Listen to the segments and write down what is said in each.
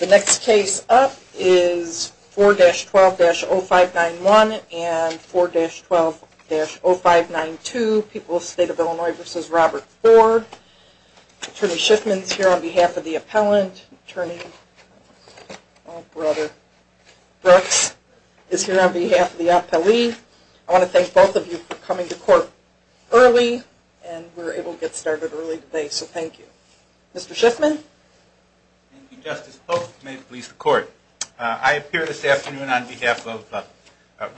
The next case up is 4-12-0591 and 4-12-0592, People of the State of Illinois v. Robert Ford. Attorney Schiffman is here on behalf of the appellant. Attorney Brooks is here on behalf of the appellee. I want to thank both of you for coming to court early, and we were able to get started early today, so thank you. Mr. Schiffman? Thank you, Justice Pope. May it please the Court. I appear this afternoon on behalf of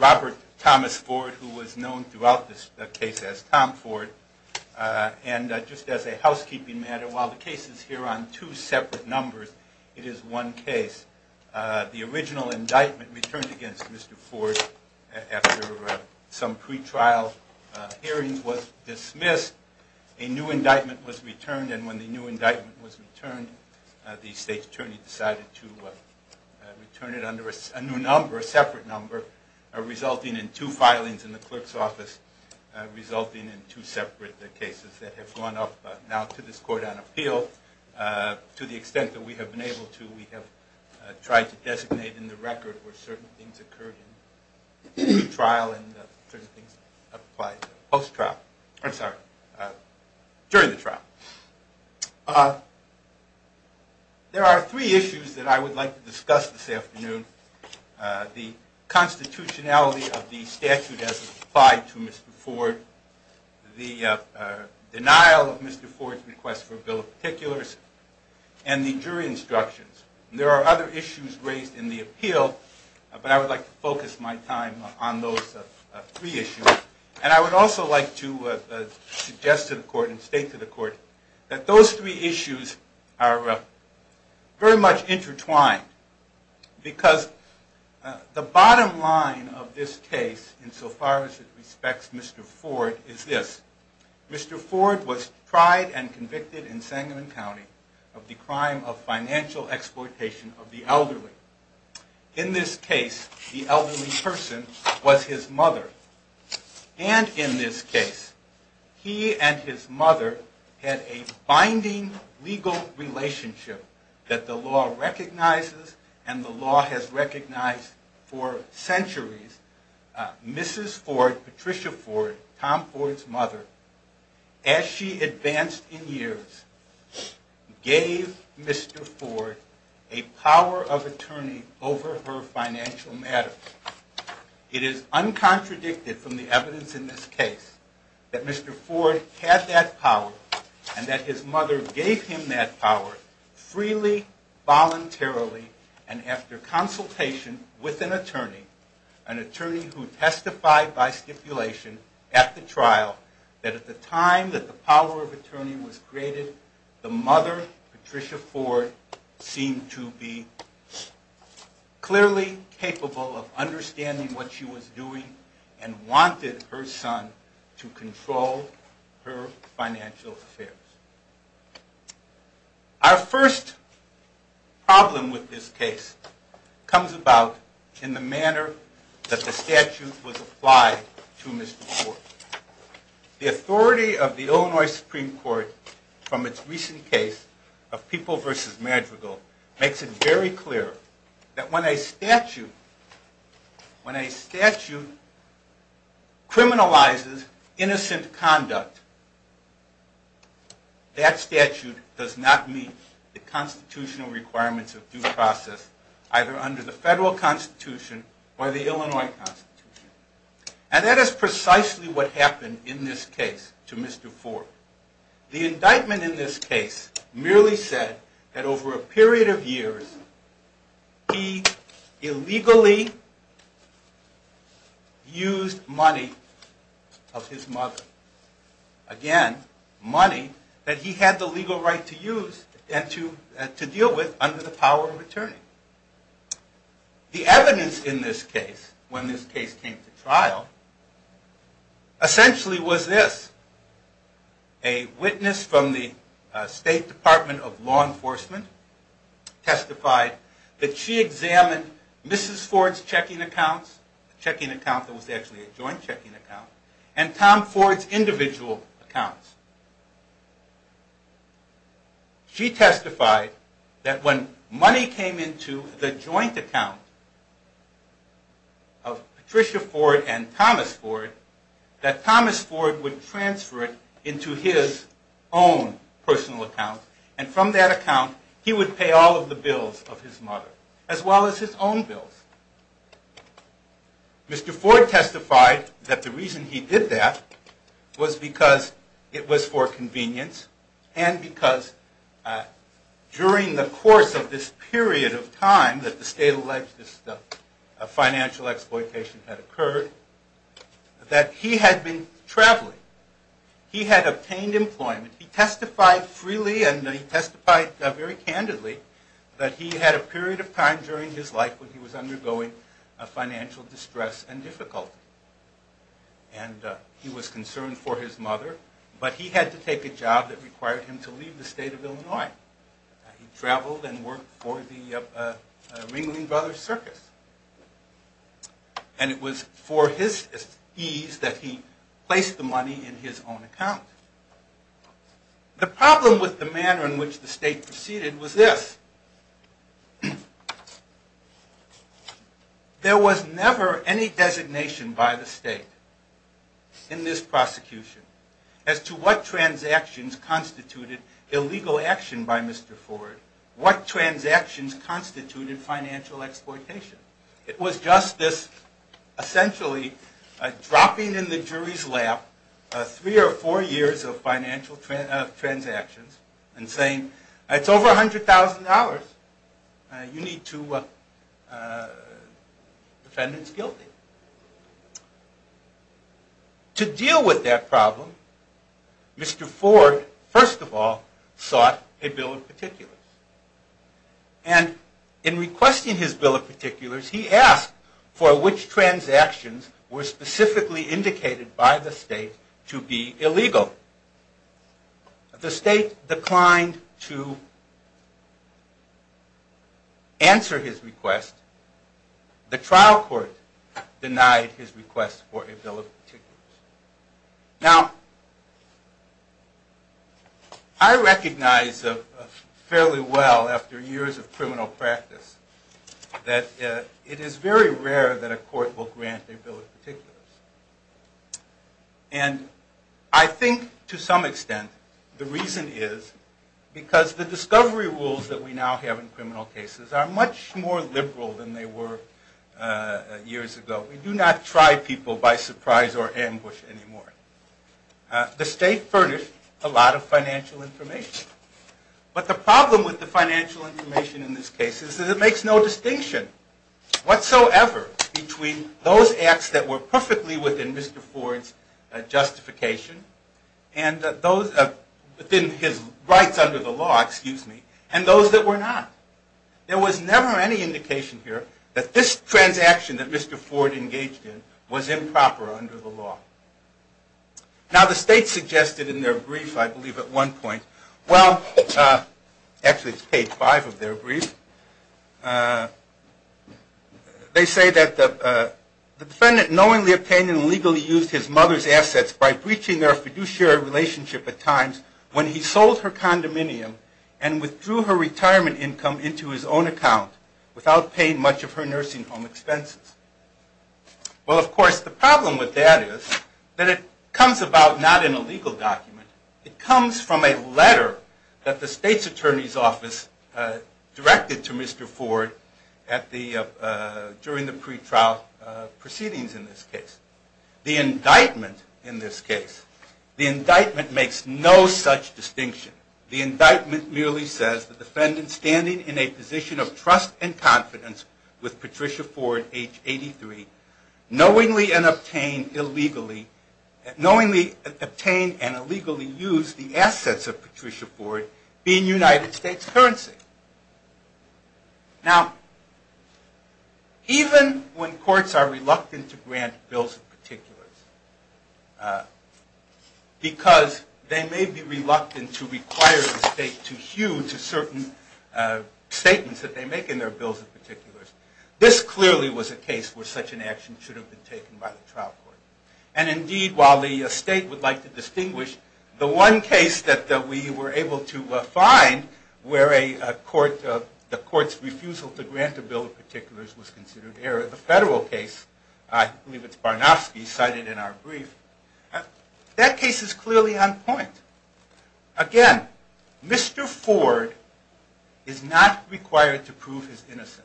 Robert Thomas Ford, who was known throughout this case as Tom Ford. And just as a housekeeping matter, while the case is here on two separate numbers, it is one case. The original indictment returned against Mr. Ford after some pretrial hearings was dismissed. A new indictment was returned, and when the new indictment was returned, the state attorney decided to return it under a new number, a separate number, resulting in two filings in the clerk's office, resulting in two separate cases that have gone up now to this court on appeal. To the extent that we have been able to, we have tried to designate in the record where certain things occurred during the trial. There are three issues that I would like to discuss this afternoon. The constitutionality of the statute as applied to Mr. Ford, the denial of Mr. Ford's request for a bill of particulars, and the jury instructions. There are other issues raised in the appeal, but I would like to focus my time on those three issues. And I would also like to suggest to the Court and state to the Court that those three issues are very much intertwined. Because the bottom line of this case, insofar as it respects Mr. Ford, is this. Mr. Ford was tried and convicted in Sangamon County of the crime of financial exploitation of the elderly. In this case, the elderly person was his mother. And in this case, he and his mother had a binding legal relationship that the law recognizes and the law has recognized for centuries. Mrs. Ford, Patricia Ford, Tom Ford's mother, as she advanced in years, gave Mr. Ford a power of attorney over her financial matters. It is uncontradicted from the evidence in this case that Mr. Ford had that power and that his mother gave him that power freely, voluntarily, and after consultation with an attorney, an attorney who testified by stipulation at the trial, that at the time that the power of attorney was created, the mother, Patricia Ford, seemed to be clearly capable of understanding what she was doing and wanted her son to control her financial affairs. Our first problem with this case comes about in the manner that the statute was applied to Mr. Ford. The authority of the Illinois Supreme Court from its recent case of People v. Madrigal makes it very clear that when a statute criminalizes innocent conduct, that statute does not meet the constitutional requirements of due process, either under the federal constitution or the Illinois constitution. And that is precisely what happened in this case to Mr. Ford. The indictment in this case merely said that over a period of years, he illegally used money of his mother. Again, money that he had the legal right to use and to deal with under the power of attorney. The evidence in this case, when this case came to trial, essentially was this. A witness from the State Department of Law Enforcement testified that she examined Mrs. Ford's checking accounts, a checking account that was actually a joint checking account, and Tom Ford's individual accounts. She testified that when money came into the joint account of Patricia Ford and Thomas Ford, that Thomas Ford would transfer it into his own personal account, and from that account he would pay all of the bills of his mother, as well as his own bills. Mr. Ford testified that the reason he did that was because it was for convenience, and because during the course of this period of time that the state alleged this financial exploitation had occurred, that he had been traveling. He had obtained employment. He testified freely, and he testified very candidly, that he had a period of time during his life when he was undergoing financial distress and difficulty. And he was concerned for his mother, but he had to take a job that required him to leave the state of Illinois. He traveled and worked for the Ringling Brothers Circus. And it was for his ease that he placed the money in his own account. The problem with the manner in which the state proceeded was this. There was never any designation by the state in this prosecution as to what transactions constituted illegal action by Mr. Ford, what transactions constituted financial exploitation. It was just this essentially dropping in the jury's lap three or four years of financial transactions and saying it's over $100,000. You need to defend its guilty. To deal with that problem, Mr. Ford, first of all, sought a bill of particulars. And in requesting his bill of particulars, he asked for which transactions were specifically indicated by the state to be illegal. The state declined to answer his request. The trial court denied his request for a bill of particulars. Now, I recognize fairly well after years of criminal practice that it is very rare that a court will grant a bill of particulars. And I think to some extent the reason is because the discovery rules that we now have in criminal cases are much more liberal than they were years ago. We do not try people by surprise or ambush anymore. The state furnished a lot of financial information. But the problem with the financial information in this case is that it makes no distinction whatsoever between those acts that were perfectly within Mr. Ford's justification and those within his rights under the law, excuse me, and those that were not. There was never any indication here that this transaction that Mr. Ford engaged in was improper under the law. Now, the state suggested in their brief, I believe at one point, well, actually it's page five of their brief, they say that the defendant knowingly obtained and illegally used his mother's assets by breaching their fiduciary relationship at times when he sold her condominium and withdrew her retirement income into his own account without paying much of her nursing home expenses. Well, of course, the problem with that is that it comes about not in a legal document. It comes from a letter that the state's attorney's office directed to Mr. Ford during the pretrial proceedings in this case. The indictment in this case, the indictment makes no such distinction. The indictment merely says the defendant standing in a position of trust and confidence with Patricia Ford, age 83, knowingly obtained and illegally used the assets of Patricia Ford being United States currency. Now, even when courts are reluctant to grant bills of particulars because they may be reluctant to require the state to hew to certain statements that they make in their bills of particulars, this clearly was a case where such an action should have been taken by the trial court. And indeed, while the state would like to distinguish, the one case that we were able to find where the court's refusal to grant a bill of particulars was considered error, the federal case, I believe it's Barnofsky, cited in our brief, that case is clearly on point. Again, Mr. Ford is not required to prove his innocence.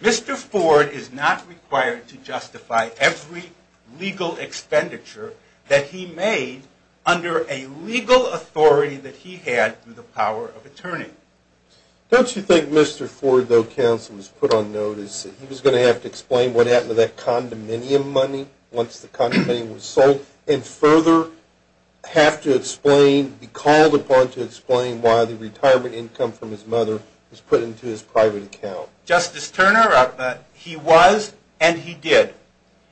Mr. Ford is not required to justify every legal expenditure that he made under a legal authority that he had through the power of attorney. Don't you think Mr. Ford, though, counsel, was put on notice that he was going to have to explain what happened to that condominium money once the condominium was sold, and further have to explain, be called upon to explain why the retirement income from his mother was put into his private account? Justice Turner, he was and he did.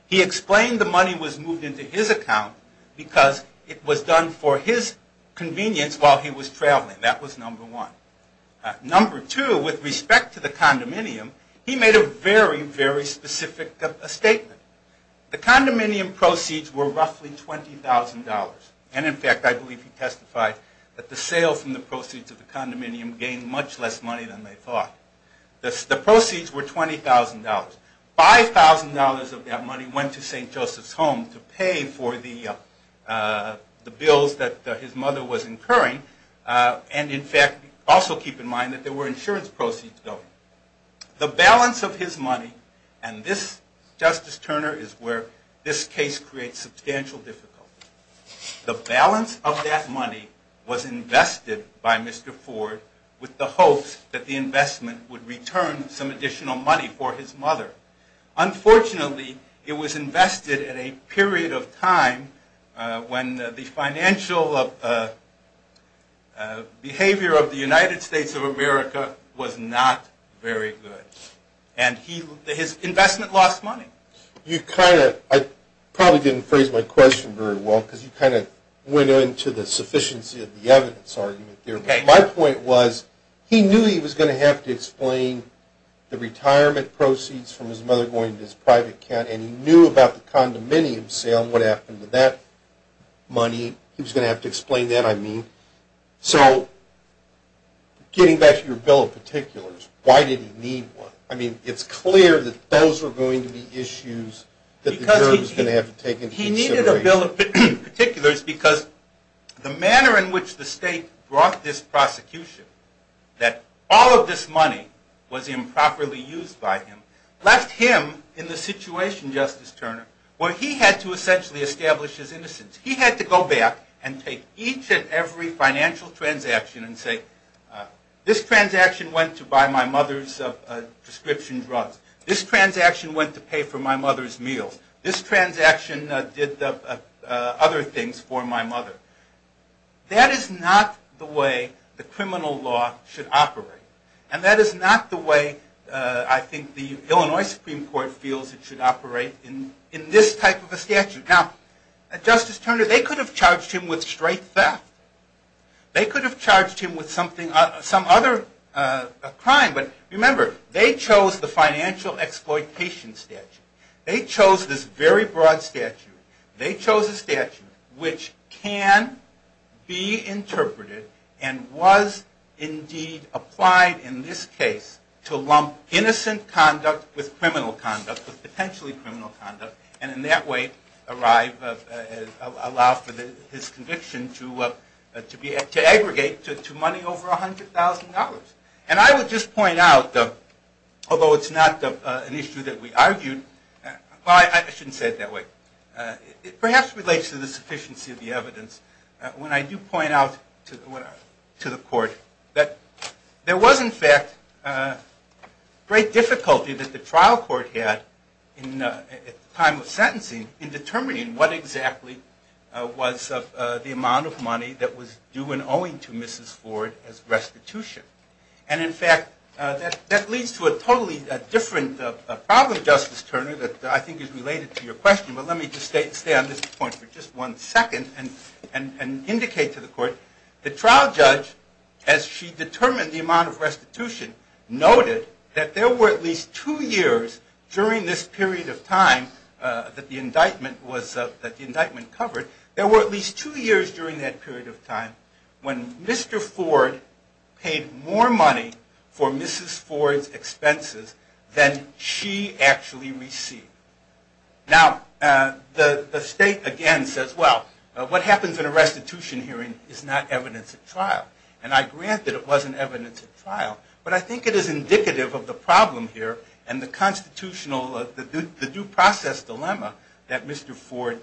He explained the money was moved into his account because it was done for his convenience while he was traveling. That was number one. Number two, with respect to the condominium, he made a very, very specific statement. The condominium proceeds were roughly $20,000. And, in fact, I believe he testified that the sale from the proceeds of the condominium gained much less money than they thought. The proceeds were $20,000. $5,000 of that money went to St. Joseph's Home to pay for the bills that his mother was incurring. And, in fact, also keep in mind that there were insurance proceeds, though. The balance of his money, and this, Justice Turner, is where this case creates substantial difficulty. The balance of that money was invested by Mr. Ford with the hopes that the investment would return some additional money for his mother. Unfortunately, it was invested at a period of time when the financial behavior of the United States of America was not very good. And his investment lost money. I probably didn't phrase my question very well because you kind of went into the sufficiency of the evidence argument there. But my point was he knew he was going to have to explain the retirement proceeds from his mother going to his private account, and he knew about the condominium sale and what happened to that money. He was going to have to explain that, I mean. So getting back to your bill of particulars, why did he need one? I mean, it's clear that those are going to be issues that the jurors are going to have to take into consideration. He needed a bill of particulars because the manner in which the state brought this prosecution that all of this money was improperly used by him left him in the situation, Justice Turner, where he had to essentially establish his innocence. He had to go back and take each and every financial transaction and say, this transaction went to buy my mother's prescription drugs. This transaction went to pay for my mother's meals. This transaction did other things for my mother. That is not the way the criminal law should operate. And that is not the way I think the Illinois Supreme Court feels it should operate in this type of a statute. Now, Justice Turner, they could have charged him with straight theft. They could have charged him with some other crime. But remember, they chose the financial exploitation statute. They chose this very broad statute. They chose a statute which can be interpreted and was indeed applied in this case to lump innocent conduct with criminal conduct, with potentially criminal conduct, and in that way allow for his conviction to aggregate to money over $100,000. And I would just point out, although it's not an issue that we argued, well, I shouldn't say it that way. It perhaps relates to the sufficiency of the evidence when I do point out to the court that there was, in fact, great difficulty that the trial court had at the time of sentencing in determining what exactly was the amount of money that was due and owing to Mrs. Ford as restitution. And in fact, that leads to a totally different problem, Justice Turner, that I think is related to your question. But let me just stay on this point for just one second and indicate to the court the trial judge, as she determined the amount of restitution, noted that there were at least two years during this period of time that the indictment covered, there were at least two years during that period of time when Mr. Ford paid more money for Mrs. Ford's expenses than she actually received. Now, the state again says, well, what happens in a restitution hearing is not evidence at trial. And I grant that it wasn't evidence at trial, but I think it is indicative of the problem here and the constitutional, the due process dilemma that Mr. Ford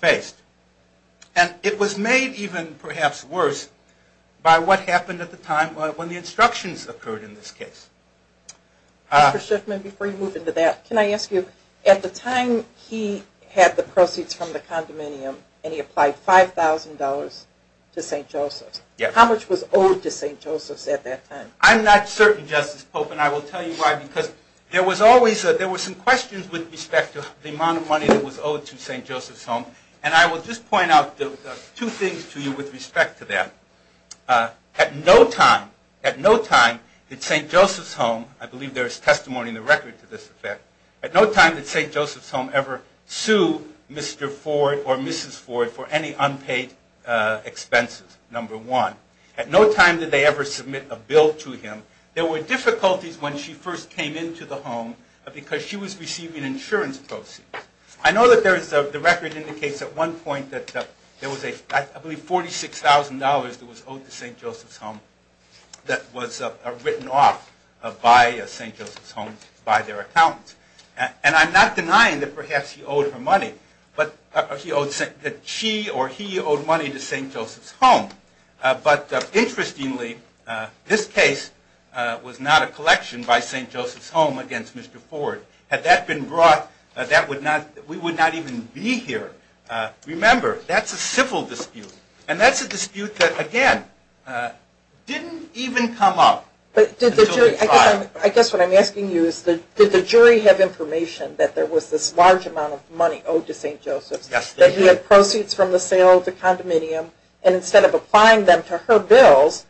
faced. And it was made even perhaps worse by what happened at the time when the instructions occurred in this case. Dr. Schiffman, before you move into that, can I ask you, at the time he had the proceeds from the condominium and he applied $5,000 to St. Joseph's, how much was owed to St. Joseph's at that time? I'm not certain, Justice Pope, and I will tell you why, because there was always, there were some questions with respect to the amount of money that was owed to St. Joseph's Home. And I will just point out two things to you with respect to that. At no time, at no time did St. Joseph's Home, I believe there is testimony in the record to this effect, at no time did St. Joseph's Home ever sue Mr. Ford or Mrs. Ford for any unpaid expenses, number one. At no time did they ever submit a bill to him. There were difficulties when she first came into the home because she was receiving insurance proceeds. I know that there is, the record indicates at one point that there was a, I believe $46,000 that was owed to St. Joseph's Home that was written off by St. Joseph's Home, by their accountant. And I'm not denying that perhaps he owed her money, that she or he owed money to St. Joseph's Home. But interestingly, this case was not a collection by St. Joseph's Home against Mr. Ford. Had that been brought, we would not even be here. Remember, that's a civil dispute. And that's a dispute that, again, didn't even come up until the trial. I guess what I'm asking you is did the jury have information that there was this large amount of money owed to St. Joseph's? Yes, they did. He had proceeds from the sale of the condominium, and instead of applying them to her bills,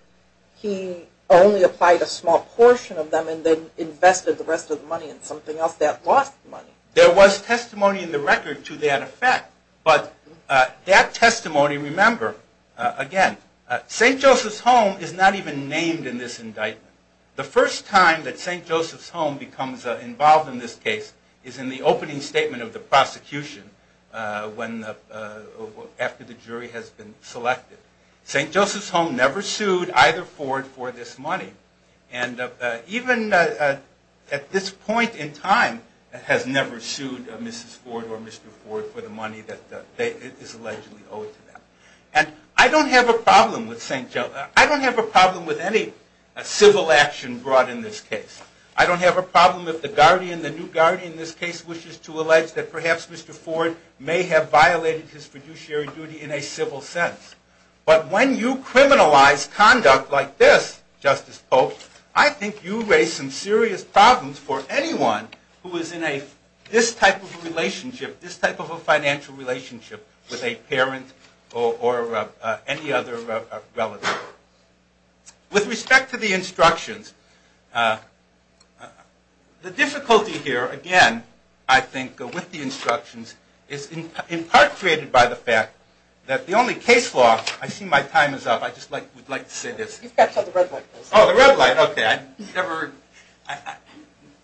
he only applied a small portion of them and then invested the rest of the money in something else that lost money. There was testimony in the record to that effect. But that testimony, remember, again, St. Joseph's Home is not even named in this indictment. The first time that St. Joseph's Home becomes involved in this case is in the opening statement of the prosecution after the jury has been selected. St. Joseph's Home never sued either Ford for this money. And even at this point in time has never sued Mrs. Ford or Mr. Ford for the money that is allegedly owed to them. And I don't have a problem with St. Joseph's. I don't have a problem with any civil action brought in this case. I don't have a problem if the guardian, the new guardian in this case, wishes to allege that perhaps Mr. Ford may have violated his fiduciary duty in a civil sense. But when you criminalize conduct like this, Justice Pope, I think you raise some serious problems for anyone who is in this type of a relationship, this type of a financial relationship with a parent or any other relative. With respect to the instructions, the difficulty here, again, I think, with the instructions, is in part created by the fact that the only case law, I see my time is up. I just would like to say this. You've got until the red light. Oh, the red light, okay.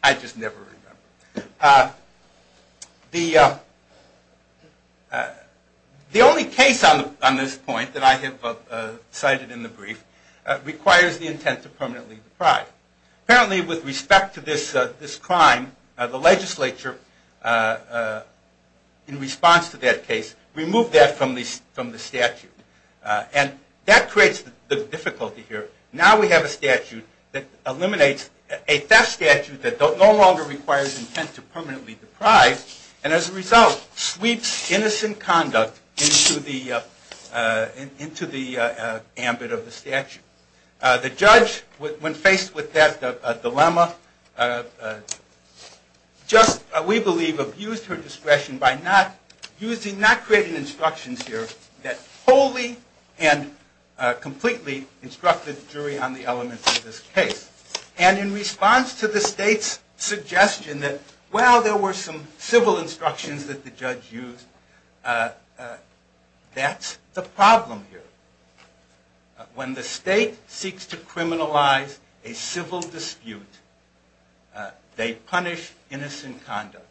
I just never remember. The only case on this point that I have cited in the brief requires the intent to permanently deprive. Apparently, with respect to this crime, the legislature, in response to that case, removed that from the statute. And that creates the difficulty here. Now we have a statute that eliminates a theft statute that no longer requires intent to permanently deprive, and as a result, sweeps innocent conduct into the ambit of the statute. The judge, when faced with that dilemma, just, we believe, abused her discretion by not creating instructions here that wholly and completely instructed the jury on the elements of this case. And in response to the state's suggestion that, well, there were some civil instructions that the judge used, that's the problem here. When the state seeks to criminalize a civil dispute, they punish innocent conduct.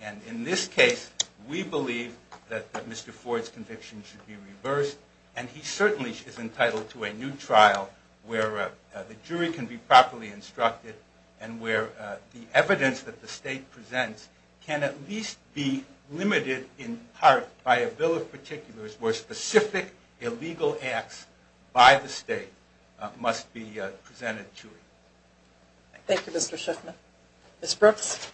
And in this case, we believe that Mr. Ford's conviction should be reversed, and he certainly is entitled to a new trial where the jury can be properly instructed and where the evidence that the state presents can at least be limited in part by a bill of particulars where specific illegal acts by the state must be presented to it. Thank you, Mr. Shiffman. Ms. Brooks?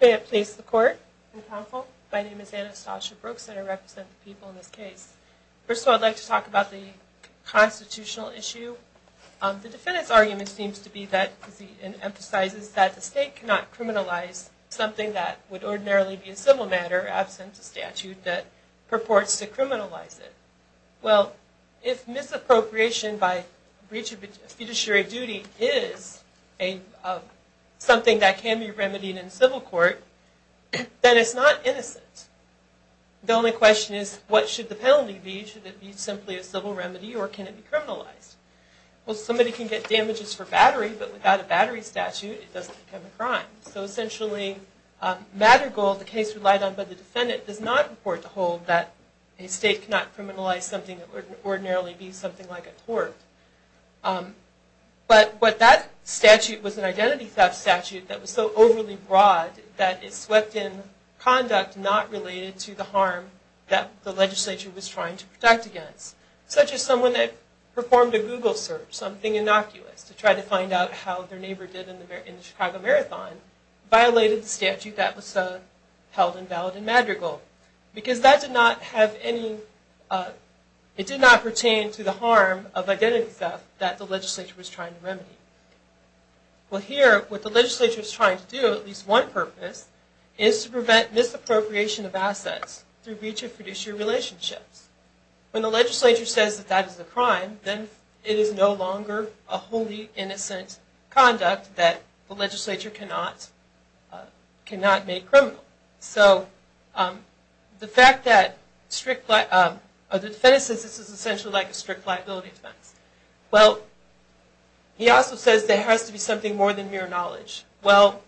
May it please the court and counsel, my name is Anastasia Brooks, and I represent the people in this case. First of all, I'd like to talk about the constitutional issue. The defendant's argument seems to be that, as he emphasizes, that the state cannot criminalize something that would ordinarily be a civil matter, absent a statute that purports to criminalize it. Well, if misappropriation by breach of a fiduciary duty is something that can be remedied in civil court, then it's not innocent. The only question is, what should the penalty be? Should it be simply a civil remedy, or can it be criminalized? Well, somebody can get damages for battery, but without a battery statute, it doesn't become a crime. So essentially, Mattergold, the case relied on by the defendant, does not report to hold that a state cannot criminalize something that would ordinarily be something like a tort. But that statute was an identity theft statute that was so overly broad that it swept in conduct not related to the harm that the legislature was trying to protect against. Such as someone that performed a Google search, something innocuous, to try to find out how their neighbor did in the Chicago Marathon, violated the statute that was held invalid in Mattergold. Because that did not pertain to the harm of identity theft that the legislature was trying to remedy. Well here, what the legislature is trying to do, at least one purpose, is to prevent misappropriation of assets through breach of fiduciary relationships. And then it is no longer a wholly innocent conduct that the legislature cannot make criminal. So the fact that the defendant says this is essentially like a strict liability defense. Well, he also says there has to be something more than mere knowledge. Well,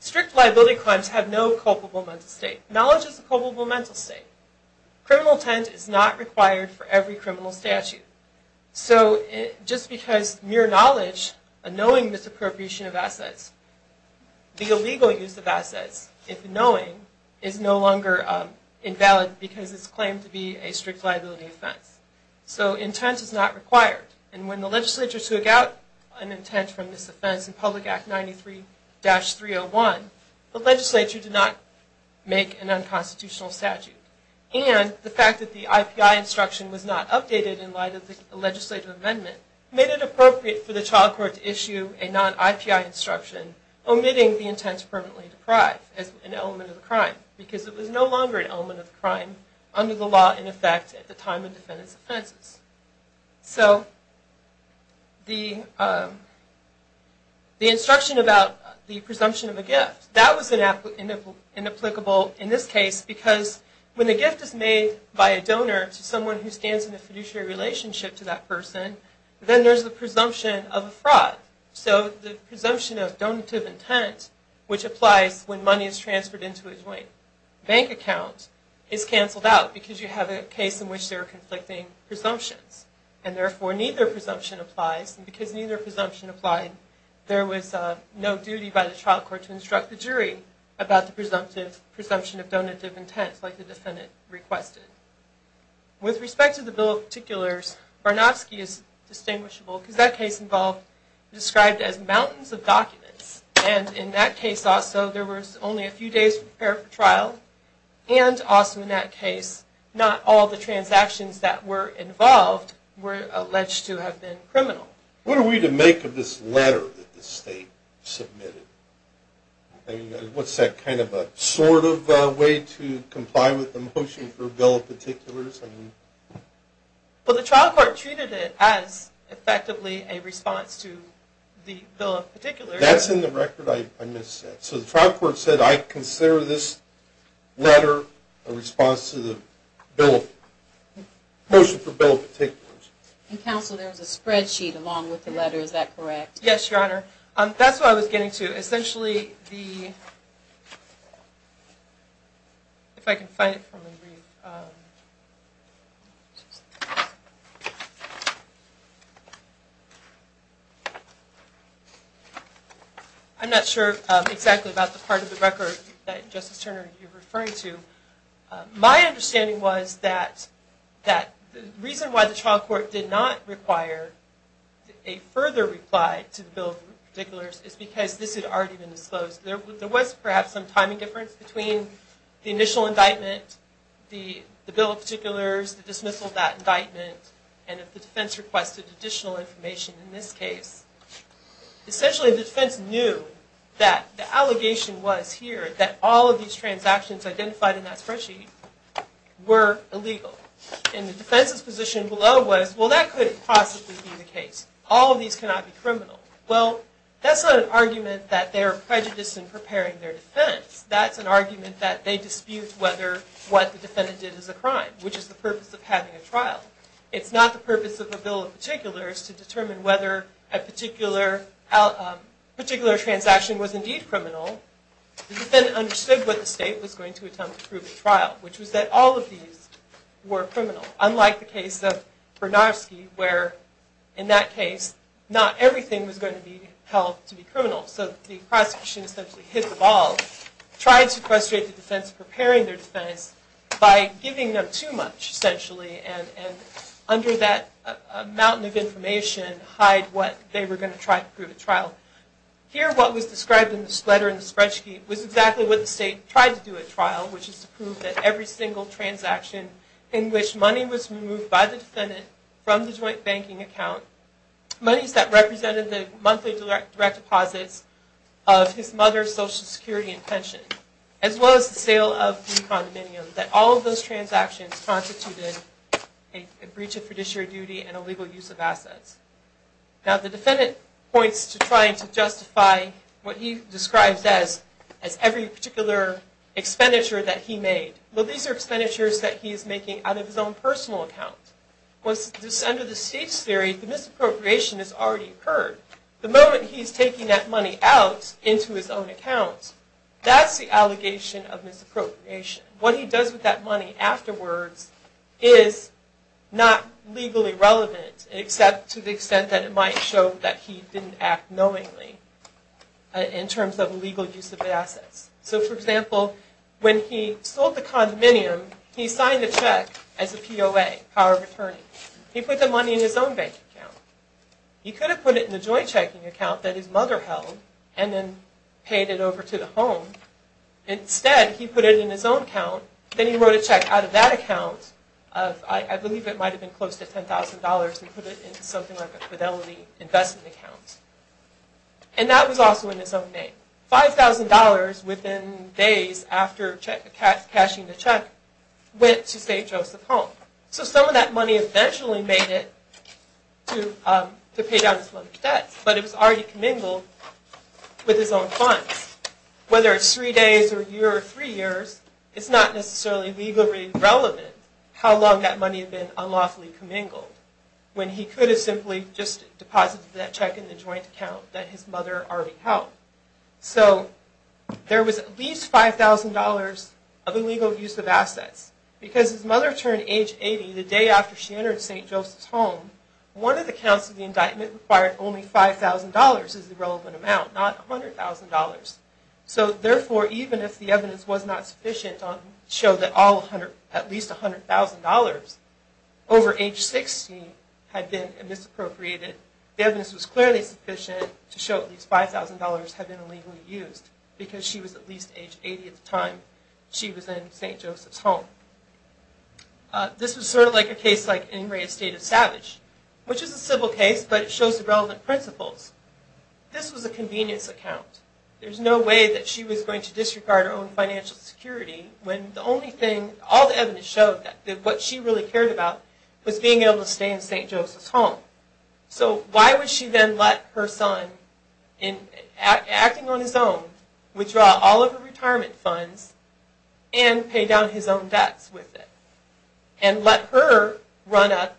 strict liability claims have no culpable mental state. Knowledge is a culpable mental state. Criminal intent is not required for every criminal statute. So just because mere knowledge, a knowing misappropriation of assets, the illegal use of assets, if knowing, is no longer invalid because it is claimed to be a strict liability offense. So intent is not required. And when the legislature took out an intent from this offense in Public Act 93-301, the legislature did not make an unconstitutional statute. And the fact that the IPI instruction was not updated in light of the legislative amendment made it appropriate for the child court to issue a non-IPI instruction omitting the intent to permanently deprive as an element of the crime. Because it was no longer an element of the crime under the law in effect at the time of defendant's offenses. So the instruction about the presumption of a gift, that was inapplicable in this case because when a gift is made by a donor to someone who stands in a fiduciary relationship to that person, then there's the presumption of a fraud. So the presumption of donative intent, which applies when money is transferred into a joint bank account, is canceled out because you have a case in which there are conflicting presumptions. And therefore neither presumption applies. And because neither presumption applied, there was no duty by the child court to instruct the jury about the presumption of donative intent like the defendant requested. With respect to the Bill of Particulars, Barnofsky is distinguishable And in that case also, there was only a few days for trial. And also in that case, not all the transactions that were involved were alleged to have been criminal. What are we to make of this letter that the state submitted? What's that kind of a sort of way to comply with the motion for Bill of Particulars? Well, the trial court treated it as effectively a response to the Bill of Particulars. That's in the record I missed. So the trial court said, I consider this letter a response to the motion for Bill of Particulars. Counsel, there was a spreadsheet along with the letter. Is that correct? Yes, Your Honor. That's what I was getting to. Essentially, if I can find it for me to read. I'm not sure exactly about the part of the record that, Justice Turner, you're referring to. My understanding was that the reason why the trial court did not require a further reply to the Bill of Particulars is because this had already been disclosed. There was perhaps some timing difference between the initial indictment, the Bill of Particulars, the dismissal of that indictment, and if the defense requested additional information in this case. Essentially, the defense knew that the allegation was here, that all of these transactions identified in that spreadsheet were illegal. And the defense's position below was, well, that couldn't possibly be the case. All of these cannot be criminal. Well, that's not an argument that they are prejudiced in preparing their defense. That's an argument that they dispute whether what the defendant did is a crime, which is the purpose of having a trial. It's not the purpose of the Bill of Particulars to determine whether a particular transaction was indeed criminal. The defendant understood what the state was going to attempt to prove at trial, which was that all of these were criminal. Unlike the case of Bernarski, where in that case, not everything was going to be held to be criminal. So the prosecution essentially hit the ball, trying to frustrate the defense in preparing their defense by giving them too much, essentially, and under that mountain of information, hide what they were going to try to prove at trial. Here, what was described in this letter in the spreadsheet was exactly what the state tried to do at trial, which is to prove that every single transaction in which money was removed by the defendant from the joint banking account, monies that represented the monthly direct deposits of his mother's Social Security and pension, as well as the sale of the condominium, that all of those transactions constituted a breach of fiduciary duty and illegal use of assets. Now, the defendant points to trying to justify what he describes as every particular expenditure that he made. Well, these are expenditures that he's making out of his own personal account. Under the state's theory, the misappropriation has already occurred. The moment he's taking that money out into his own account, that's the allegation of misappropriation. What he does with that money afterwards is not legally relevant, except to the extent that it might show that he didn't act knowingly in terms of illegal use of assets. So, for example, when he sold the condominium, he signed the check as a POA, power of attorney. He put the money in his own bank account. He could have put it in the joint checking account that his mother held and then paid it over to the home. Instead, he put it in his own account. Then he wrote a check out of that account of, I believe it might have been close to $10,000, and put it into something like a fidelity investment account. And that was also in his own name. $5,000 within days after cashing the check went to stay Joseph's home. So some of that money eventually made it to pay down his mother's debts, but it was already commingled with his own funds. Whether it's three days or a year or three years, it's not necessarily legally relevant how long that money had been unlawfully commingled when he could have simply just deposited that check in the joint account that his mother already held. So there was at least $5,000 of illegal use of assets because his mother turned age 80 the day after she entered St. Joseph's home. One of the counts of the indictment required only $5,000 as the relevant amount, not $100,000. So therefore, even if the evidence was not sufficient to show that at least $100,000 over age 16 had been misappropriated, the evidence was clearly sufficient to show at least $5,000 had been illegally used because she was at least age 80 at the time she was in St. Joseph's home. This was sort of like a case like Ingrate Estate of Savage, which is a civil case, but it shows the relevant principles. This was a convenience account. There's no way that she was going to disregard her own financial security when all the evidence showed that what she really cared about was being able to stay in St. Joseph's home. So why would she then let her son, acting on his own, withdraw all of her retirement funds and pay down his own debts with it and let her run up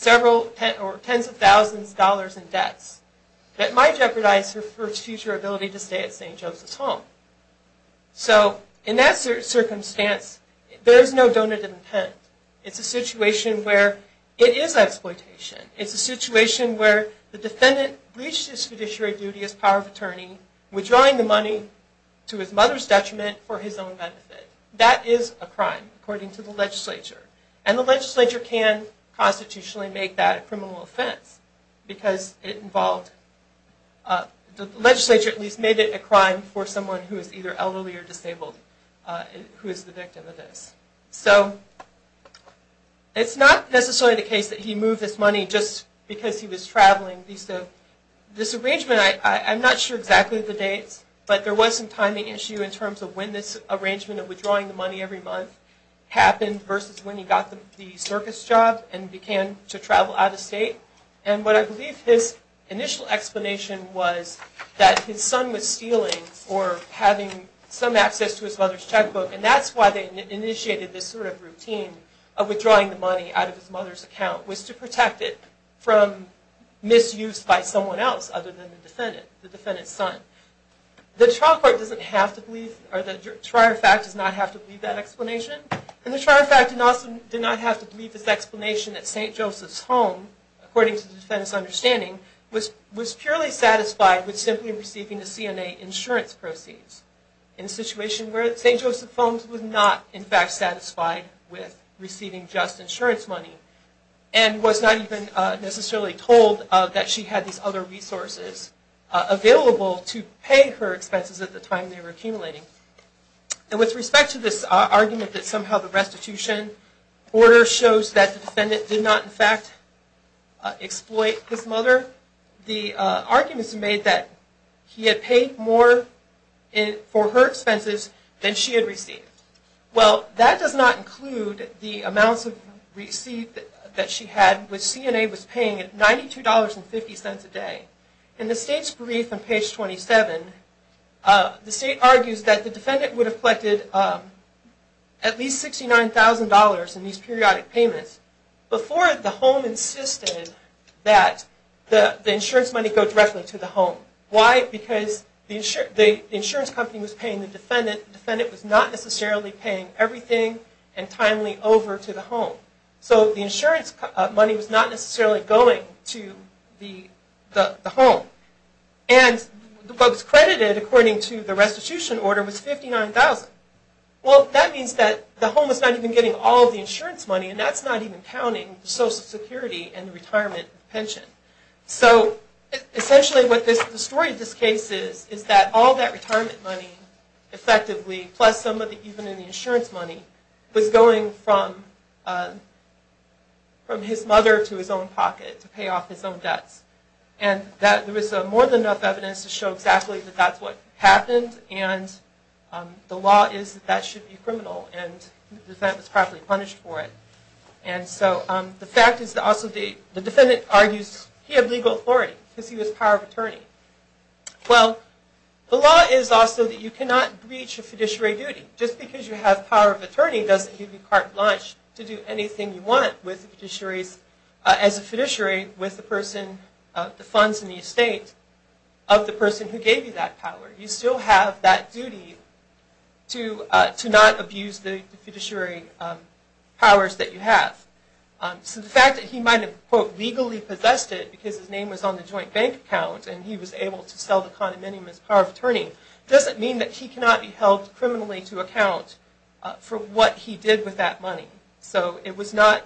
tens of thousands of dollars in debts that might jeopardize her future ability to stay at St. Joseph's home? So in that circumstance, there's no donated intent. It's a situation where it is exploitation. It's a situation where the defendant breached his fiduciary duty as power of attorney, withdrawing the money to his mother's detriment for his own benefit. That is a crime, according to the legislature. And the legislature can constitutionally make that a criminal offense because the legislature at least made it a crime for someone who is either elderly or disabled who is the victim of this. So it's not necessarily the case that he moved this money just because he was traveling. This arrangement, I'm not sure exactly the dates, but there was some timing issue in terms of when this arrangement of withdrawing the money every month happened versus when he got the circus job and began to travel out of state. And what I believe his initial explanation was that his son was stealing or having some access to his mother's checkbook, and that's why they initiated this sort of routine of withdrawing the money out of his mother's account was to protect it from misuse by someone else other than the defendant, the defendant's son. The trial court doesn't have to believe, or the trier fact does not have to believe that explanation. And the trier fact did not have to believe this explanation that St. Joseph's Home, according to the defendant's understanding, was purely satisfied with simply receiving the CNA insurance proceeds in a situation where St. Joseph's Home was not in fact satisfied with receiving just insurance money. And was not even necessarily told that she had these other resources available to pay her expenses at the time they were accumulating. And with respect to this argument that somehow the restitution order shows that the defendant did not in fact exploit his mother, the argument is made that he had paid more for her expenses than she had received. Well, that does not include the amounts of receipt that she had, which CNA was paying at $92.50 a day. In the state's brief on page 27, the state argues that the defendant would have collected at least $69,000 in these periodic payments before the home insisted that the insurance money go directly to the home. Why? Because the insurance company was paying the defendant. The defendant was not necessarily paying everything and timely over to the home. So the insurance money was not necessarily going to the home. And what was credited according to the restitution order was $59,000. Well, that means that the home was not even getting all of the insurance money, and that's not even counting the Social Security and the retirement pension. So essentially what the story of this case is, is that all that retirement money effectively, plus some of the insurance money, was going from his mother to his own pocket to pay off his own debts. And there was more than enough evidence to show exactly that that's what happened, and the law is that that should be criminal, and the defendant was properly punished for it. And so the fact is that also the defendant argues he had legal authority because he was a power of attorney. Well, the law is also that you cannot breach a fiduciary duty. Just because you have power of attorney doesn't give you carte blanche to do anything you want as a fiduciary with the funds in the estate of the person who gave you that power. You still have that duty to not abuse the fiduciary powers that you have. So the fact that he might have, quote, legally possessed it because his name was on the joint bank account and he was able to sell the condominium as power of attorney, doesn't mean that he cannot be held criminally to account for what he did with that money. So it was not,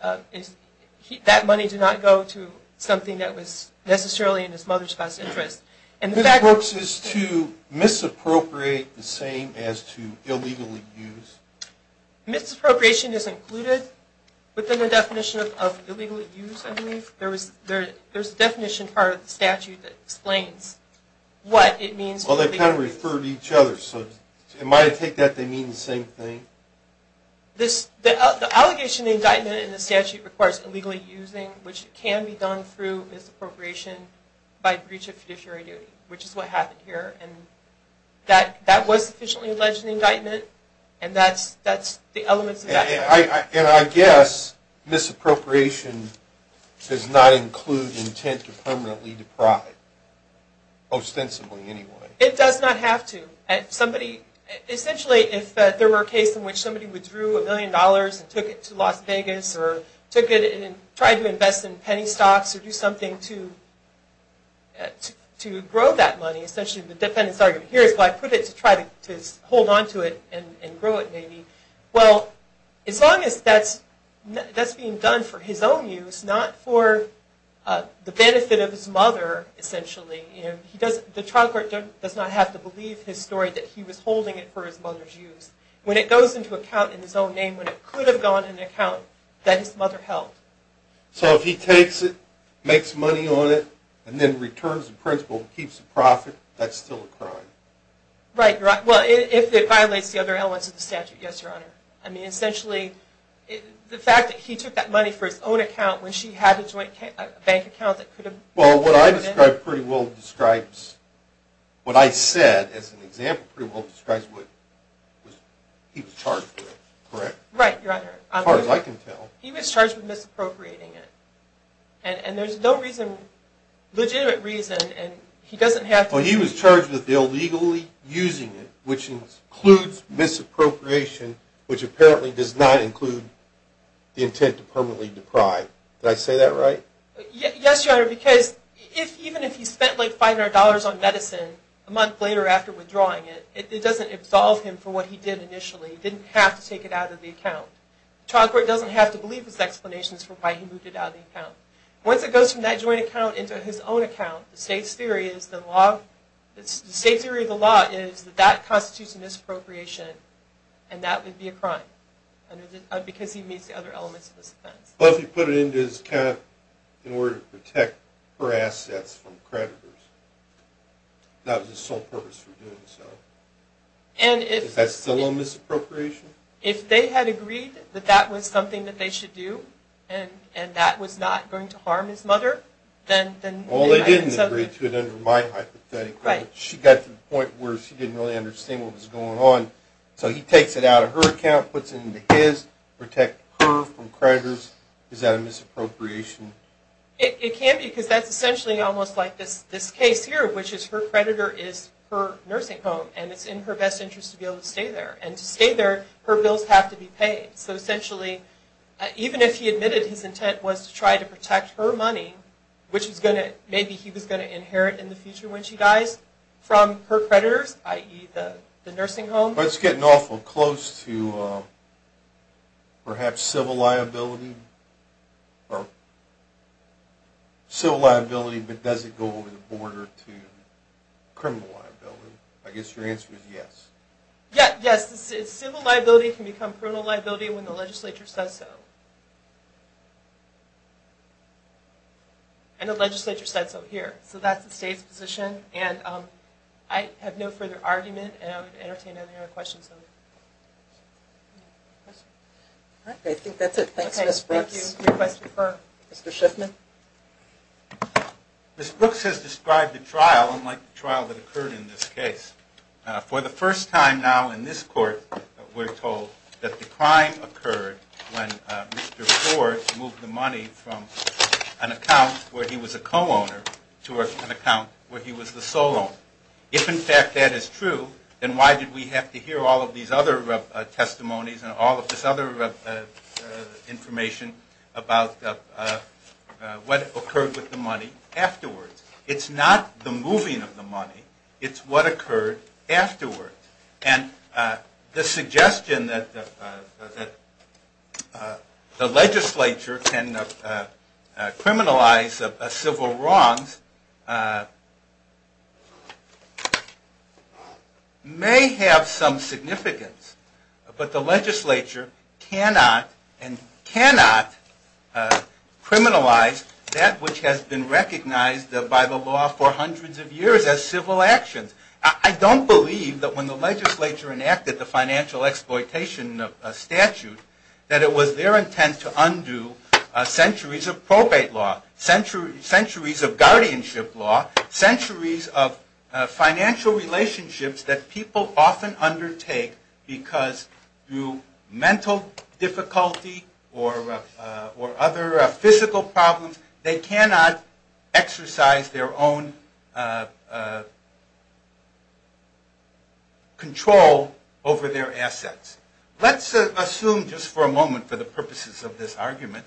that money did not go to something that was necessarily in his mother's best interest. Ms. Brooks, is to misappropriate the same as to illegally use? Misappropriation is included within the definition of illegally use, I believe. There's a definition part of the statute that explains what it means. Well, they kind of refer to each other, so it might take that they mean the same thing. The allegation of indictment in the statute requires illegally using, which can be done through misappropriation by breach of fiduciary duty, which is what happened here. And that was sufficiently alleged in the indictment, and that's the elements of that case. And I guess misappropriation does not include intent to permanently deprive, ostensibly anyway. It does not have to. Essentially, if there were a case in which somebody withdrew a million dollars and took it to Las Vegas, or took it and tried to invest in penny stocks, or do something to grow that money. Essentially, the defendant's argument here is, well, I put it to try to hold on to it and grow it, maybe. Well, as long as that's being done for his own use, not for the benefit of his mother, essentially, the trial court does not have to believe his story that he was holding it for his mother's use. When it goes into account in his own name, when it could have gone into account, that his mother held. So if he takes it, makes money on it, and then returns the principal and keeps the profit, that's still a crime? Right, you're right. Well, if it violates the other elements of the statute, yes, Your Honor. I mean, essentially, the fact that he took that money for his own account when she had a joint bank account that could have... Well, what I described pretty well describes... What I said as an example pretty well describes what he was charged with, correct? Right, Your Honor. As far as I can tell. He was charged with misappropriating it. And there's no reason, legitimate reason, and he doesn't have to... Well, he was charged with illegally using it, which includes misappropriation, which apparently does not include the intent to permanently deprive. Did I say that right? Yes, Your Honor, because even if he spent, like, $500 on medicine a month later after withdrawing it, it doesn't absolve him for what he did initially. He didn't have to take it out of the account. The trial court doesn't have to believe his explanations for why he moved it out of the account. Once it goes from that joint account into his own account, the state's theory of the law is that that constitutes a misappropriation, and that would be a crime because he meets the other elements of this offense. What if he put it into his account in order to protect her assets from creditors? That was his sole purpose for doing so. And if... Is that still a misappropriation? If they had agreed that that was something that they should do, and that was not going to harm his mother, then... Well, they didn't agree to it under my hypothetical. Right. She got to the point where she didn't really understand what was going on. So he takes it out of her account, puts it into his, protects her from creditors. Is that a misappropriation? It can be because that's essentially almost like this case here, which is her creditor is her nursing home, and it's in her best interest to be able to stay there. And to stay there, her bills have to be paid. So essentially, even if he admitted his intent was to try to protect her money, which maybe he was going to inherit in the future when she dies, from her creditors, i.e. the nursing home. But it's getting awful close to perhaps civil liability. Civil liability, but does it go over the border to criminal liability? I guess your answer is yes. Yes. Civil liability can become criminal liability when the legislature says so. And the legislature said so here. So that's the state's position. And I have no further argument, and I would entertain any other questions. All right, I think that's it. Thanks, Ms. Brooks. Okay, thank you. Any questions for Mr. Shiffman? Ms. Brooks has described the trial unlike the trial that occurred in this case. For the first time now in this court, we're told that the crime occurred when Mr. Ford moved the money from an account where he was a co-owner to an account where he was the sole owner. If, in fact, that is true, then why did we have to hear all of these other testimonies and all of this other information about what occurred with the money afterwards? It's not the moving of the money. It's what occurred afterwards. And the suggestion that the legislature can criminalize civil wrongs may have some significance, but the legislature cannot and cannot criminalize that which has been recognized by the law for hundreds of years as civil actions. I don't believe that when the legislature enacted the financial exploitation statute, that it was their intent to undo centuries of probate law, centuries of guardianship law, centuries of financial relationships that people often undertake because through mental difficulty or other physical problems, they cannot exercise their own control over their assets. Let's assume just for a moment for the purposes of this argument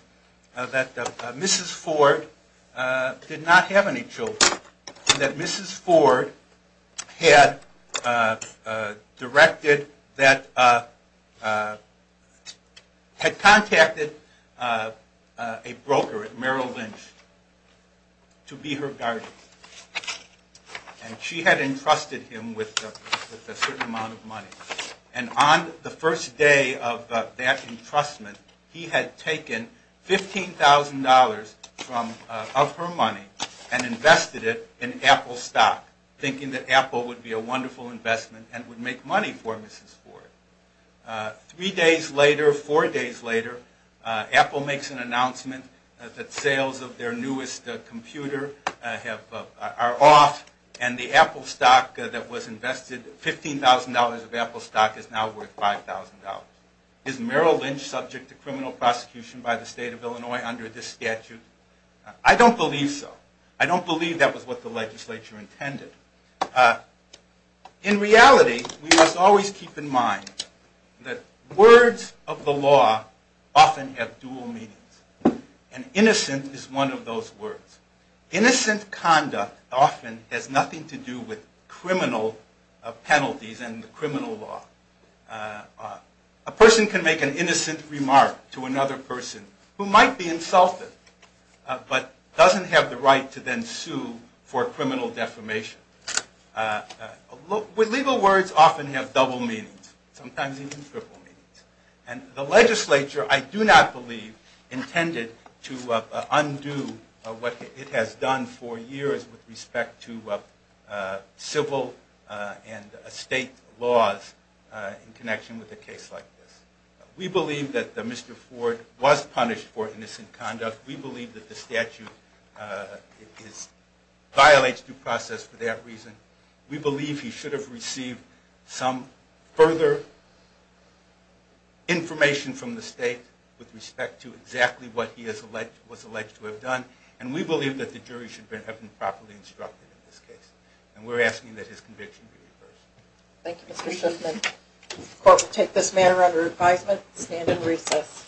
that Mrs. Ford did not have any children, that Mrs. Ford had contacted a broker at Merrill Lynch to be her guardian. And she had entrusted him with a certain amount of money. And on the first day of that entrustment, he had taken $15,000 of her money and invested it in Apple stock, thinking that Apple would be a wonderful investment and would make money for Mrs. Ford. Three days later, four days later, Apple makes an announcement that sales of their newest computer are off and the Apple stock that was invested, $15,000 of Apple stock is now worth $5,000. Is Merrill Lynch subject to criminal prosecution by the state of Illinois under this statute? I don't believe so. I don't believe that was what the legislature intended. In reality, we must always keep in mind that words of the law often have dual meanings. And innocent is one of those words. Innocent conduct often has nothing to do with criminal penalties and the criminal law. A person can make an innocent remark to another person who might be insulted but doesn't have the right to then sue for criminal defamation. Legal words often have double meanings, sometimes even triple meanings. And the legislature, I do not believe, intended to undo what it has done for years with respect to civil and state laws in connection with a case like this. We believe that Mr. Ford was punished for innocent conduct. We believe that the statute violates due process for that reason. We believe he should have received some further information from the state with respect to exactly what he was alleged to have done. And we believe that the jury should have been properly instructed in this case. And we're asking that his conviction be reversed. Thank you, Mr. Schiffman. The court will take this matter under advisement and stand in recess.